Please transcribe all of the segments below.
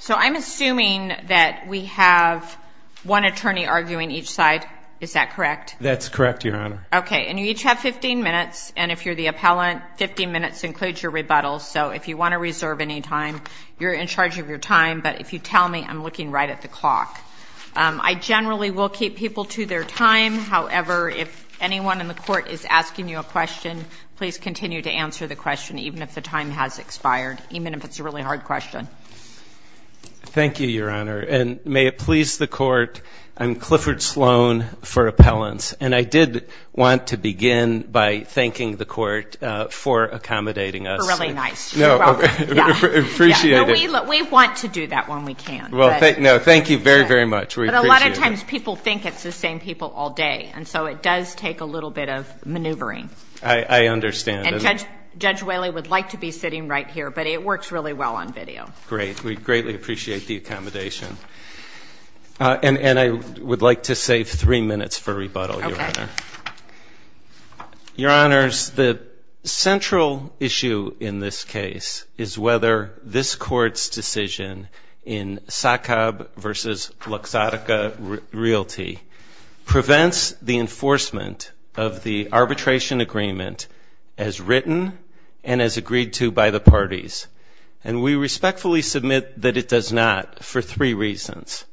So I'm assuming that we have one attorney arguing each side, is that correct? That's correct, Your Honor. Okay, and you each have 15 minutes, and if you're the appellant, 15 minutes includes your rebuttal. So if you want to reserve any time, you're in charge of your time, but if you tell me, I'm looking right at the clock. I generally will keep people to their time. However, if anyone in the court is asking you a question, please continue to answer the question, even if the time has expired, even if it's a really hard question. Thank you, Your Honor, and may it please the court, I'm Clifford Sloan for appellants, and I did want to begin by thanking the court for accommodating us. You're really nice. No, I appreciate it. We want to do that when we can. Well, thank you very, very much. But a lot of times people think it's the same people all day, and so it does take a little bit of maneuvering. I understand. And Judge Whaley would like to be sitting right here, but it works really well on video. Great. We greatly appreciate the accommodation. And I would like to save three minutes for rebuttal, Your Honor. Okay. Your Honors, the central issue in this case is whether this court's decision in Sacab v. Luxottica Realty prevents the enforcement of the arbitration agreement as written and as agreed to by the parties. And we respectfully submit that it does not for three reasons.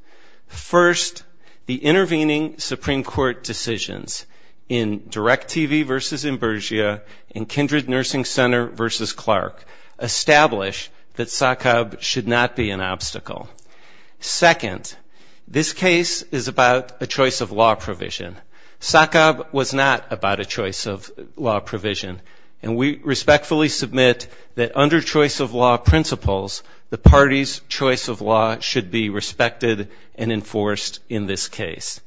First, the intervening Supreme Court decisions in DirecTV v. Imburgia and Kindred Nursing Center v. Clark establish that Sacab should not be an obstacle. Second, this case is about a choice of law provision. Sacab was not about a choice of law provision, and we respectfully submit that under choice of law principles, the party's choice of law should be respected and enforced in this case.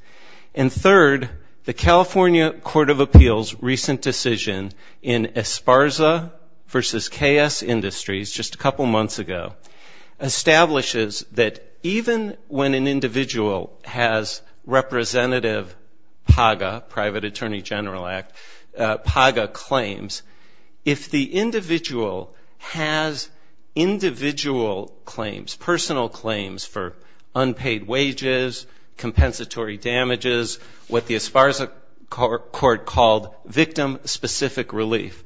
And third, the California Court of Appeals' recent decision in Esparza v. KS Industries just a couple months ago establishes that even when an individual has representative PAGA, Private Attorney General Act, PAGA claims, if the individual has individual claims, personal claims for unpaid wages, compensatory damages, what the Esparza court called victim-specific relief,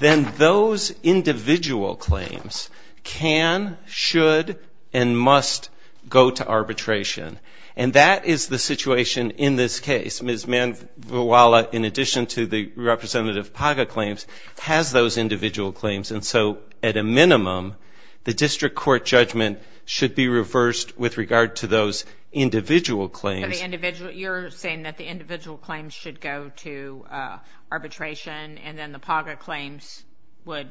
then those individual claims can, should, and must go to arbitration. And that is the situation in this case. Ms. Manvuala, in addition to the representative PAGA claims, has those individual claims. And so at a minimum, the district court judgment should be reversed with regard to those individual claims. You're saying that the individual claims should go to arbitration and then the PAGA claims would?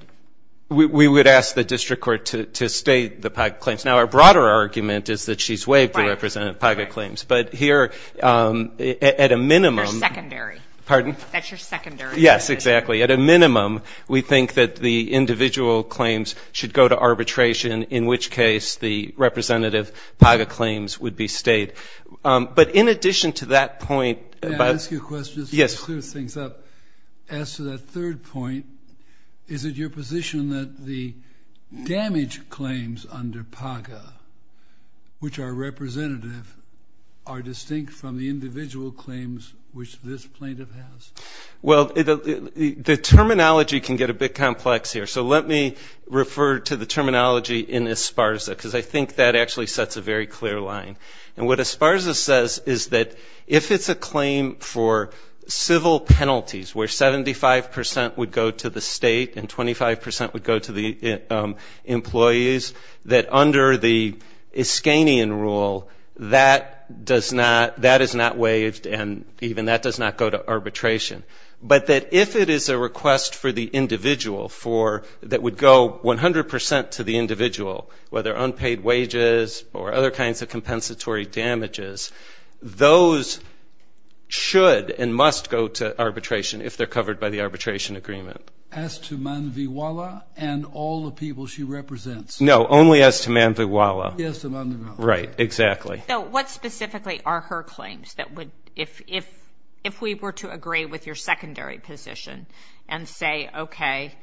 We would ask the district court to state the PAGA claims. Now, our broader argument is that she's waived the representative PAGA claims. But here, at a minimum. They're secondary. Pardon? That's your secondary. Yes, exactly. At a minimum, we think that the individual claims should go to arbitration, in which case the representative PAGA claims would be stayed. But in addition to that point about? May I ask you a question? Yes. Just to clear things up, as to that third point, is it your position that the damage claims under PAGA, which are representative, are distinct from the individual claims which this plaintiff has? Well, the terminology can get a bit complex here, so let me refer to the terminology in Esparza because I think that actually sets a very clear line. And what Esparza says is that if it's a claim for civil penalties where 75% would go to the state and 25% would go to the employees, that under the Iskanian rule, that is not waived and even that does not go to arbitration. But that if it is a request for the individual that would go 100% to the individual, whether unpaid wages or other kinds of compensatory damages, those should and must go to arbitration if they're covered by the arbitration agreement. As to Manviwala and all the people she represents. No, only as to Manviwala. Yes, to Manviwala. Right, exactly. So what specifically are her claims that would, if we were to agree with your secondary position and say, okay,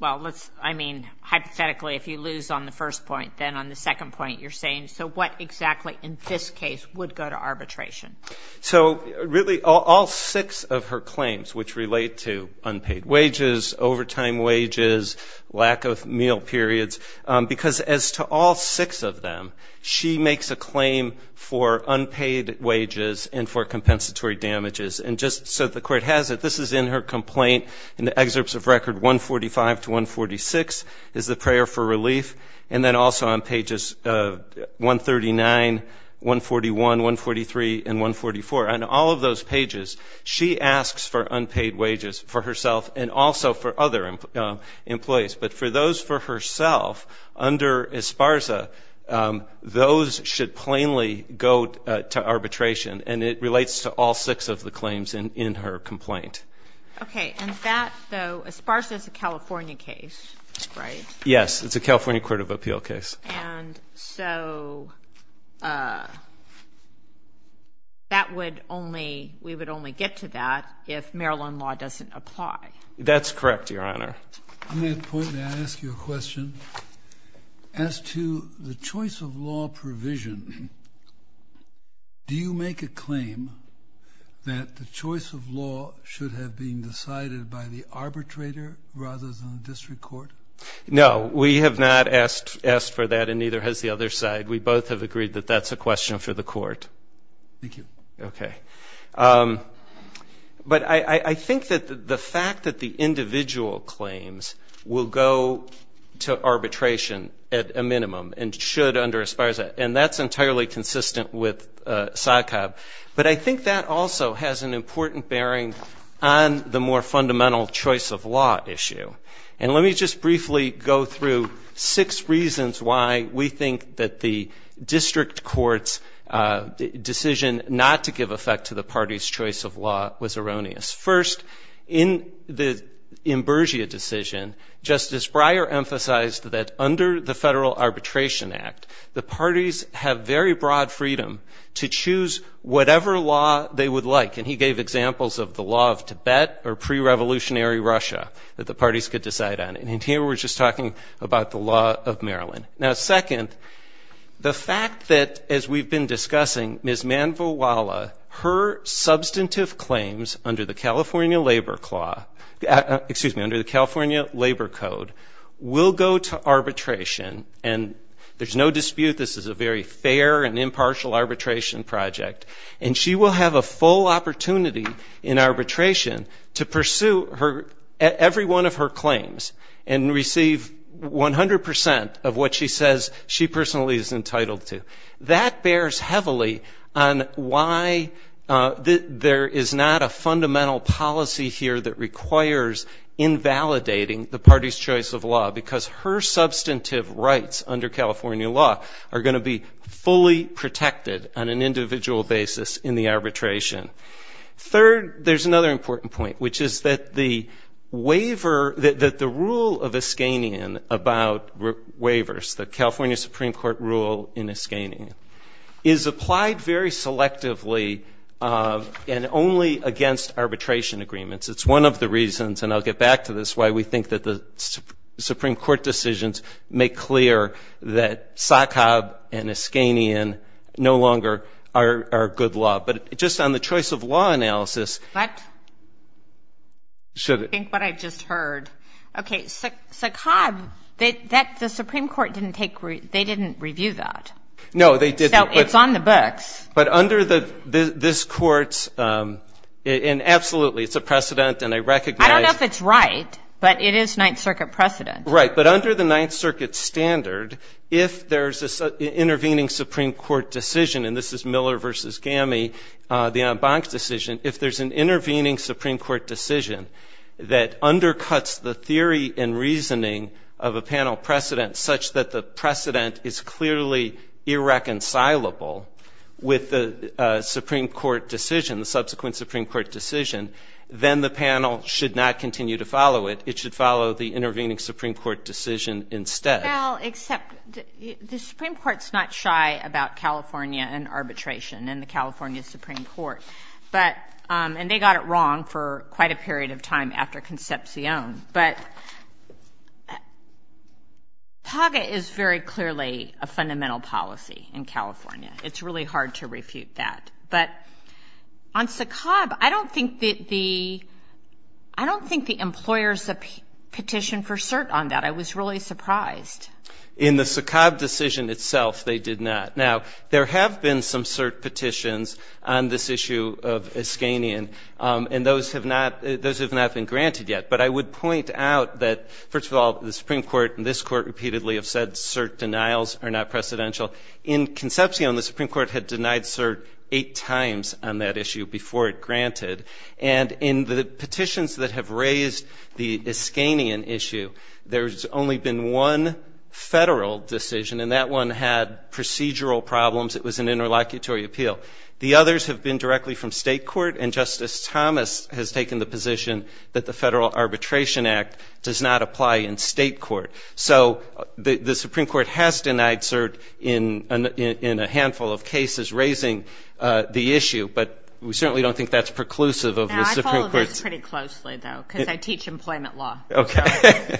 well, let's, I mean, hypothetically if you lose on the first point, then on the second point you're saying, so what exactly in this case would go to arbitration? So really all six of her claims, which relate to unpaid wages, overtime wages, lack of meal periods, because as to all six of them, she makes a claim for unpaid wages and for compensatory damages. And just so the Court has it, this is in her complaint in the excerpts of record 145 to 146, is the prayer for relief, and then also on pages 139, 141, 143, and 144. On all of those pages, she asks for unpaid wages for herself and also for other employees. But for those for herself, under ESPARZA, those should plainly go to arbitration. And it relates to all six of the claims in her complaint. Okay. And that, though, ESPARZA is a California case, right? Yes. It's a California Court of Appeal case. And so that would only, we would only get to that if Maryland law doesn't apply. That's correct, Your Honor. On that point, may I ask you a question? As to the choice of law provision, do you make a claim that the choice of law should have been decided by the arbitrator rather than the district court? No. We have not asked for that, and neither has the other side. We both have agreed that that's a question for the Court. Thank you. Okay. But I think that the fact that the individual claims will go to arbitration at a minimum and should under ESPARZA, and that's entirely consistent with SACOB, but I think that also has an important bearing on the more fundamental choice of law issue. And let me just briefly go through six reasons why we think that the district court's decision not to give effect to the party's choice of law was erroneous. First, in the Imburgia decision, Justice Breyer emphasized that under the Federal Arbitration Act, the parties have very broad freedom to choose whatever law they would like. And he gave examples of the law of Tibet or pre-revolutionary Russia that the parties could decide on. And here we're just talking about the law of Maryland. Now, second, the fact that, as we've been discussing, Ms. Manvilwala, her substantive claims under the California Labor Code will go to arbitration, and there's no dispute this is a very fair and impartial arbitration project, and she will have a full opportunity in arbitration to pursue every one of her claims and receive 100 percent of what she says she personally is entitled to. That bears heavily on why there is not a fundamental policy here that requires invalidating the party's choice of law, because her substantive rights under California law are going to be fully protected on an individual basis in the arbitration. Third, there's another important point, which is that the waiver, that the rule of Iskanian about waivers, the California Supreme Court rule in Iskanian, is applied very selectively and only against arbitration agreements. It's one of the reasons, and I'll get back to this, why we think that the Supreme Court decisions make clear that SACOB and Iskanian no longer are good law. But just on the choice of law analysis. What? Think what I just heard. Okay, SACOB, the Supreme Court didn't take, they didn't review that. No, they didn't. So it's on the books. But under this Court's, and absolutely it's a precedent, and I recognize. I don't know if it's right, but it is Ninth Circuit precedent. Right, but under the Ninth Circuit standard, if there's an intervening Supreme Court decision, and this is Miller v. Gamey, the en banc decision, if there's an intervening Supreme Court decision that undercuts the theory and reasoning of a panel precedent, such that the precedent is clearly irreconcilable with the Supreme Court decision, the subsequent Supreme Court decision, then the panel should not continue to follow it. It should follow the intervening Supreme Court decision instead. Well, except the Supreme Court's not shy about California and arbitration and the California Supreme Court, and they got it wrong for quite a period of time after Concepcion. But TAGA is very clearly a fundamental policy in California. It's really hard to refute that. But on SACOB, I don't think the employers petitioned for cert on that. I was really surprised. In the SACOB decision itself, they did not. Now, there have been some cert petitions on this issue of Iskanian, and those have not been granted yet. But I would point out that, first of all, the Supreme Court and this Court repeatedly have said cert denials are not precedential. In Concepcion, the Supreme Court had denied cert eight times on that issue before it granted. And in the petitions that have raised the Iskanian issue, there's only been one federal decision, and that one had procedural problems. It was an interlocutory appeal. The others have been directly from state court, and Justice Thomas has taken the position that the Federal Arbitration Act does not apply in state court. So the Supreme Court has denied cert in a handful of cases raising the issue, but we certainly don't think that's preclusive of the Supreme Court's. Now, I follow this pretty closely, though, because I teach employment law. Okay.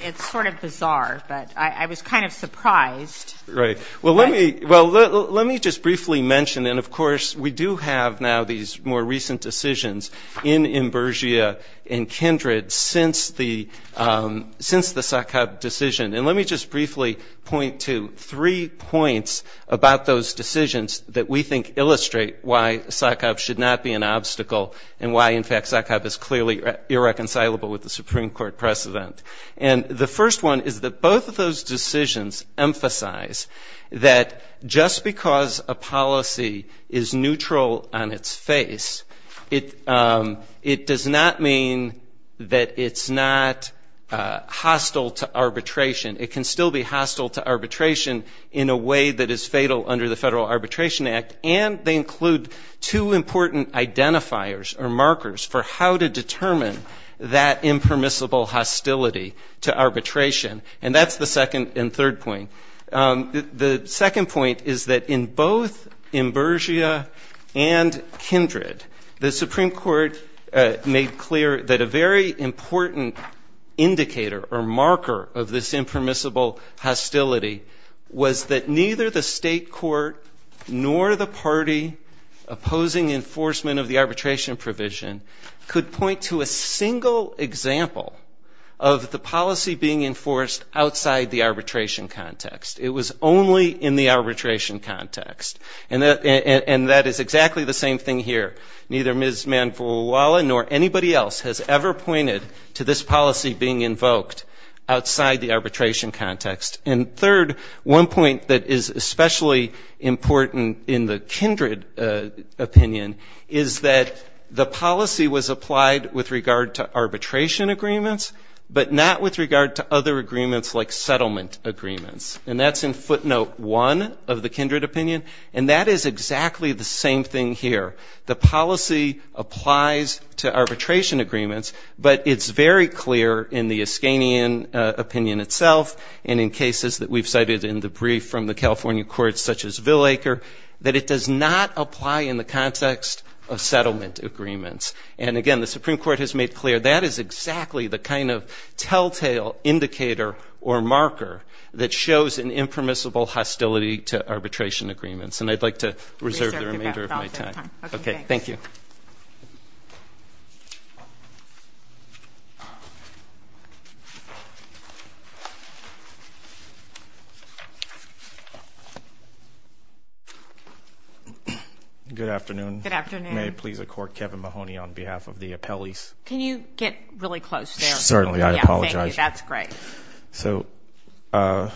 It's sort of bizarre, but I was kind of surprised. Right. Well, let me just briefly mention, and, of course, we do have now these more recent decisions in Imburgia and Kindred since the SACOB decision. And let me just briefly point to three points about those decisions that we think illustrate why SACOB should not be an obstacle and why, in fact, SACOB is clearly irreconcilable with the Supreme Court precedent. And the first one is that both of those decisions emphasize that just because a policy is neutral on its face, it does not mean that it's not hostile to arbitration. It can still be hostile to arbitration in a way that is fatal under the Federal Arbitration Act, and they include two important identifiers or markers for how to determine that impermissible hostility to arbitration. And that's the second and third point. The second point is that in both Imburgia and Kindred, the Supreme Court made clear that a very important indicator or marker of this impermissible hostility was that neither the state court nor the party opposing enforcement of the arbitration provision could point to a single example of the policy being enforced outside the arbitration context. It was only in the arbitration context. And that is exactly the same thing here. Neither Ms. Manvulawala nor anybody else has ever pointed to this policy being invoked outside the arbitration context. And third, one point that is especially important in the Kindred opinion is that the policy was applied with regard to agreements like settlement agreements. And that's in footnote one of the Kindred opinion. And that is exactly the same thing here. The policy applies to arbitration agreements, but it's very clear in the Iskanian opinion itself and in cases that we've cited in the brief from the California courts such as Villacre that it does not apply in the context of settlement agreements. And again, the Supreme Court has made clear that is exactly the kind of telltale indicator or marker that shows an impermissible hostility to arbitration agreements. And I'd like to reserve the remainder of my time. Okay, thank you. Good afternoon. Good afternoon. If you may, please accord Kevin Mahoney on behalf of the appellees. Can you get really close there? Certainly. I apologize. Thank you. That's great. So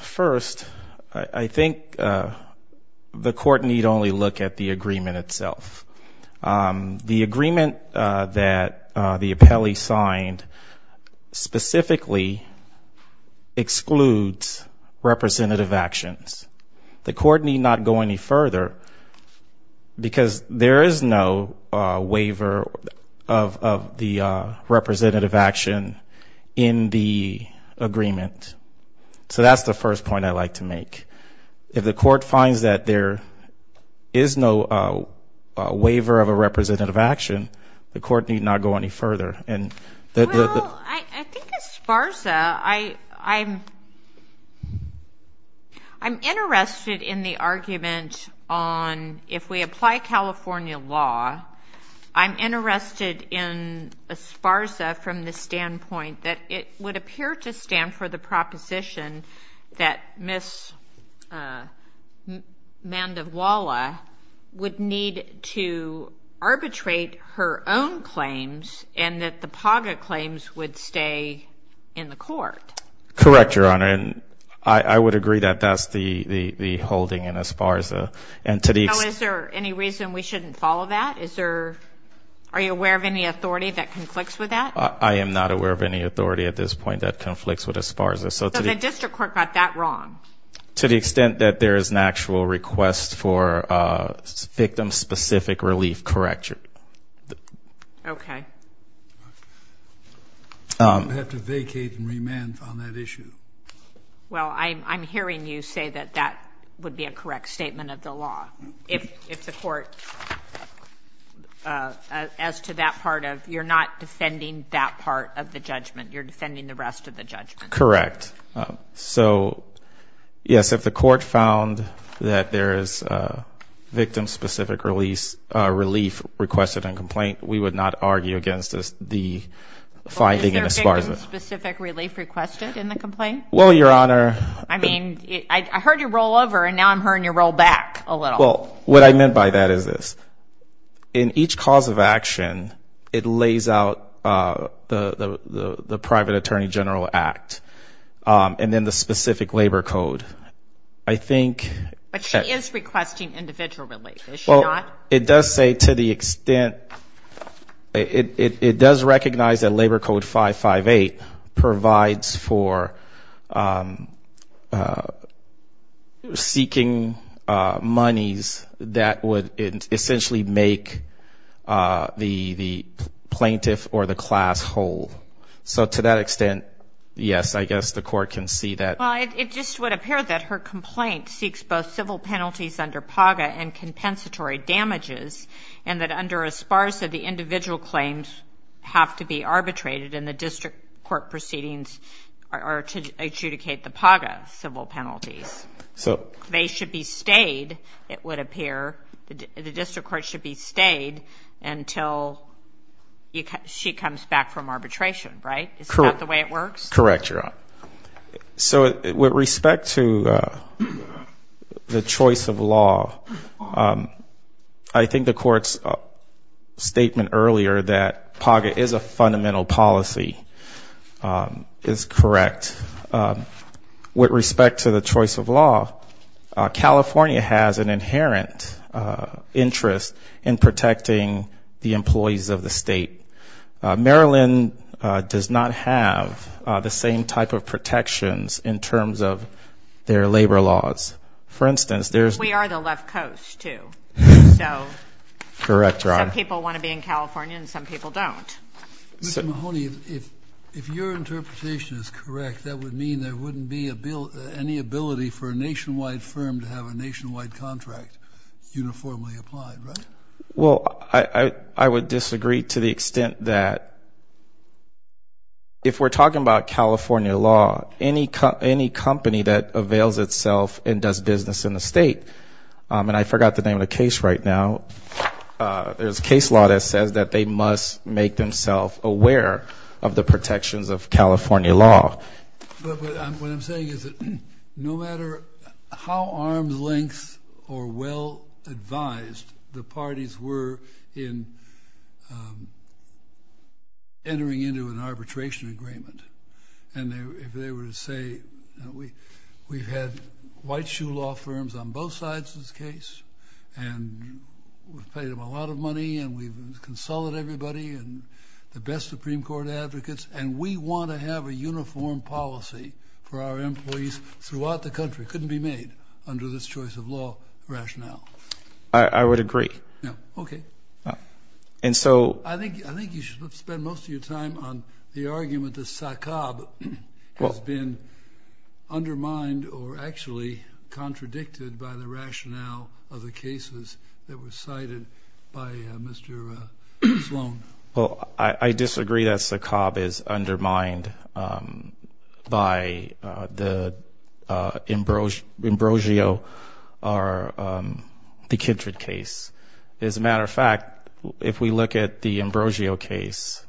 first, I think the court need only look at the agreement itself. The agreement that the appellee signed specifically excludes representative actions. The court need not go any further because there is no waiver of the representative action in the agreement. So that's the first point I'd like to make. If the court finds that there is no waiver of a representative action, the court need not go any further. Well, I think as far as I'm interested in the argument on if we apply California law, I'm interested in as far as from the standpoint that it would appear to stand for the proposition that Ms. Mandovala would need to arbitrate her own claims and that the PAGA claims would stay in the court. Correct, Your Honor. And I would agree that that's the holding in as far as the entity. So is there any reason we shouldn't follow that? Are you aware of any authority that conflicts with that? I am not aware of any authority at this point that conflicts with as far as this. So the district court got that wrong? To the extent that there is an actual request for victim-specific relief, correct, Your Honor. Okay. I'm going to have to vacate and remand on that issue. Well, I'm hearing you say that that would be a correct statement of the law if the court, as to that part of, you're not defending that part of the judgment, you're defending the rest of the judgment. Correct. So, yes, if the court found that there is victim-specific relief requested in a complaint, we would not argue against the finding in as far as it. Was there victim-specific relief requested in the complaint? Well, Your Honor. I mean, I heard you roll over and now I'm hearing you roll back a little. Well, what I meant by that is this. In each cause of action, it lays out the private attorney general act, and then the specific labor code. I think... But she is requesting individual relief, is she not? Well, it does say to the extent, it does recognize that Labor Code 558 provides for seeking monies that would essentially make the plaintiff or the class whole. So to that extent, yes, I guess the court can see that. Well, it just would appear that her complaint seeks both civil penalties under PAGA and compensatory damages, and that under ESPARZA, the individual claims have to be arbitrated, and the district court proceedings are to adjudicate the PAGA civil penalties. They should be stayed, it would appear. The district court should be stayed until she comes back from arbitration, right? Is that the way it works? Correct, Your Honor. So with respect to the choice of law, I think the court's statement earlier that PAGA is a fundamental policy is correct. With respect to the choice of law, California has an inherent interest in protecting the employees of the state. Maryland does not have the same type of protections in terms of their labor laws. For instance, there's We are the left coast, too. So Correct, Your Honor. Some people want to be in California and some people don't. Mr. Mahoney, if your interpretation is correct, that would mean there wouldn't be any ability for a nationwide firm to have a nationwide contract uniformly applied, right? Well, I would disagree to the extent that if we're talking about California law, any company that avails itself and does business in the state, and I forgot the name of the case right now, there's a case law that says that they must make themselves aware of the protections of California law. But what I'm saying is that no matter how arm's length or well advised the parties were in entering into an arbitration agreement, and if they were to say, we've had white shoe law firms on both sides of this case, and we've paid them a lot of money and we've consulted everybody and the best Supreme Court advocates, and we want to have a uniform policy for our employees throughout the country. It couldn't be made under this choice of law rationale. I would agree. Okay. And so I think you should spend most of your time on the argument that SACOB has been undermined or actually contradicted by the rationale of the cases that were cited by Mr. Sloan. Well, I disagree that SACOB is undermined by the Ambrosio or the Kindred case. As a matter of fact, if we look at the Ambrosio case,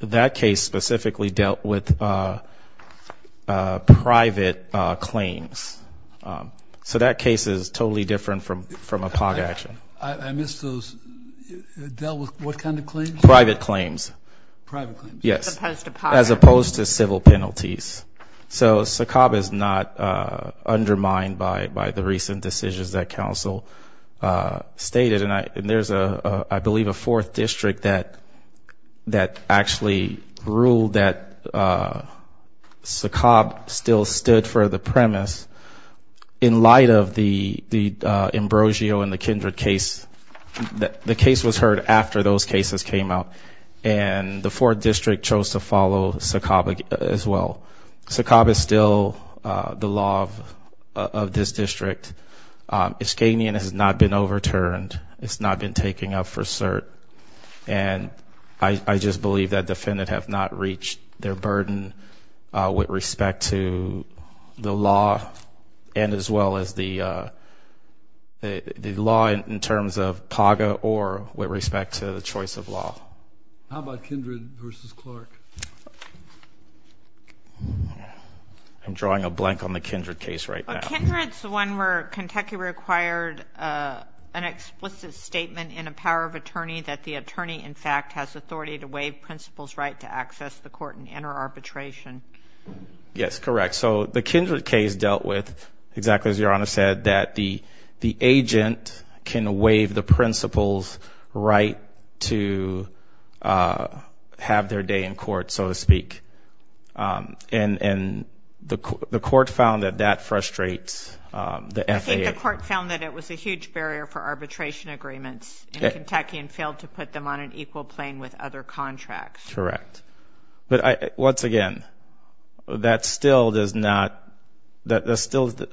that case specifically dealt with private claims. So that case is totally different from a POG action. I missed those. It dealt with what kind of claims? Private claims. Private claims. Yes. As opposed to POG. As opposed to civil penalties. So SACOB is not undermined by the recent decisions that counsel stated, and there's, I believe, a fourth district that actually ruled that SACOB still stood for the premise. In light of the Ambrosio and the Kindred case, the case was heard after those cases came out, and the fourth district chose to follow SACOB as well. SACOB is still the law of this district. Iskanian has not been overturned. It's not been taken up for cert. And I just believe that defendants have not reached their burden with respect to the law and as well as the law in terms of POG or with respect to the choice of law. How about Kindred versus Clark? I'm drawing a blank on the Kindred case right now. The Kindred is the one where Kentucky required an explicit statement in a power of attorney that the attorney, in fact, has authority to waive principal's right to access the court and enter arbitration. Yes, correct. So the Kindred case dealt with, exactly as Your Honor said, that the agent can waive the principal's right to have their day in court, so to speak. And the court found that that frustrates the FAA. I think the court found that it was a huge barrier for arbitration agreements in Kentucky and failed to put them on an equal plane with other contracts. Correct. But once again, that's still a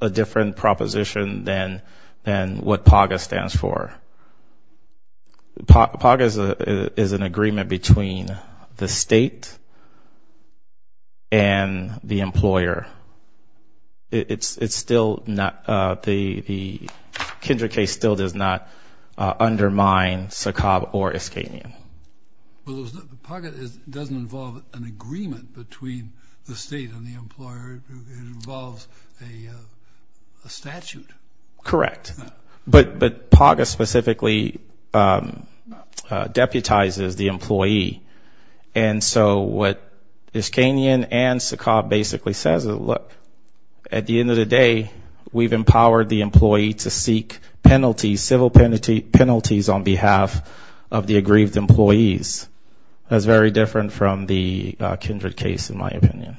different proposition than what POG stands for. POG is an agreement between the state and the employer. It's still not the Kindred case still does not undermine Sakab or Iskanian. POG doesn't involve an agreement between the state and the employer. It involves a statute. Correct. But POG specifically deputizes the employee. And so what Iskanian and Sakab basically says is, look, at the end of the day, we've empowered the employee to seek penalties, civil penalties, on behalf of the aggrieved employees. That's very different from the Kindred case, in my opinion.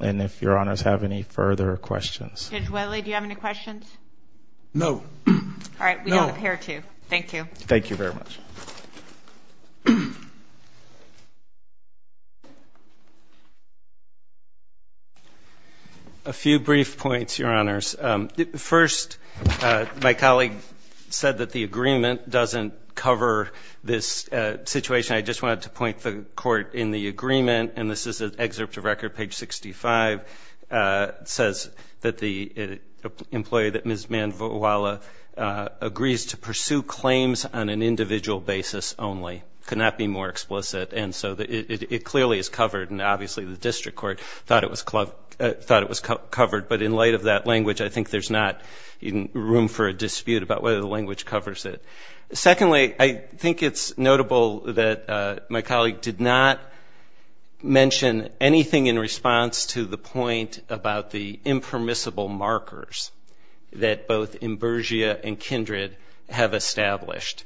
And if Your Honors have any further questions. Judge Welley, do you have any questions? No. All right. We don't appear to. Thank you. Thank you very much. A few brief points, Your Honors. First, my colleague said that the agreement doesn't cover this situation. I just wanted to point the court in the agreement, and this is an excerpt of record, page 65. It says that the employee that Ms. Manvuala agrees to pursue claims on an individual basis only. It could not be more explicit. And so it clearly is covered, and obviously the district court thought it was covered. But in light of that language, I think there's not room for a dispute about whether the language covers it. Secondly, I think it's notable that my colleague did not mention anything in response to the point about the impermissible markers that both Imburgia and Kindred have established.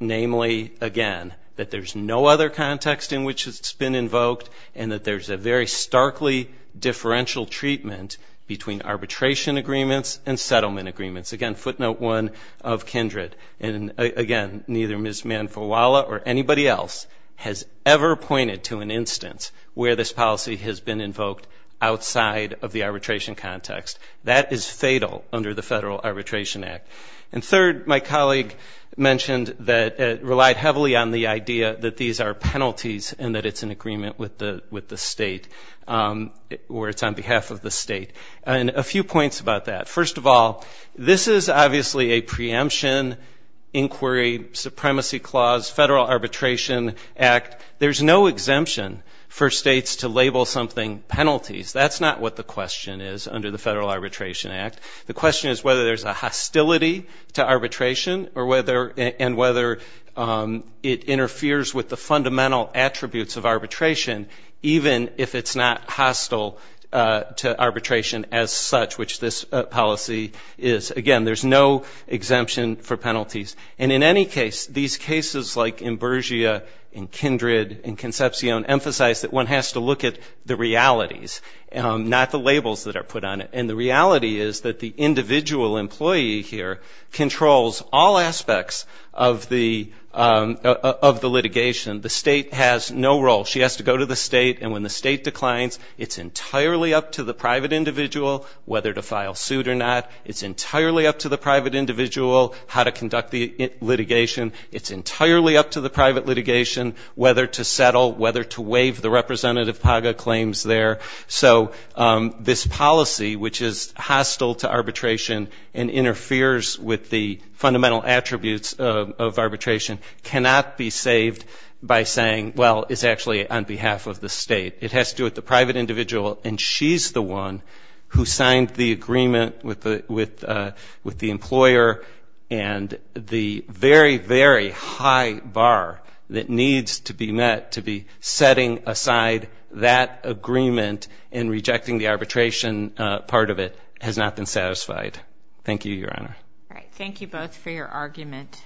Namely, again, that there's no other context in which it's been invoked, and that there's a very starkly differential treatment between arbitration agreements and settlement agreements. Again, footnote one of Kindred. And again, neither Ms. Manvuala or anybody else has ever pointed to an instance where this policy has been invoked outside of the arbitration context. That is fatal under the Federal Arbitration Act. And third, my colleague mentioned that it relied heavily on the idea that these are penalties and that it's an agreement with the state, or it's on behalf of the state. And a few points about that. First of all, this is obviously a preemption inquiry, supremacy clause, Federal Arbitration Act. There's no exemption for states to label something penalties. That's not what the question is under the Federal Arbitration Act. The question is whether there's a hostility to arbitration and whether it interferes with the fundamental attributes of Again, there's no exemption for penalties. And in any case, these cases like Imburgia and Kindred and Concepcion emphasize that one has to look at the realities, not the labels that are put on it. And the reality is that the individual employee here controls all aspects of the litigation. The state has no role. She has to go to the state. And when the state declines, it's entirely up to the private individual whether to file suit or not. It's entirely up to the private individual how to conduct the litigation. It's entirely up to the private litigation whether to settle, whether to waive the Representative Paga claims there. So this policy, which is hostile to arbitration and interferes with the fundamental attributes of arbitration, cannot be saved by saying, well, it's actually on behalf of the state. It has to do with the private individual, and she's the one who signed the agreement with the employer. And the very, very high bar that needs to be met to be setting aside that agreement and rejecting the arbitration part of it has not been satisfied. Thank you, Your Honor. All right. Thank you both for your argument.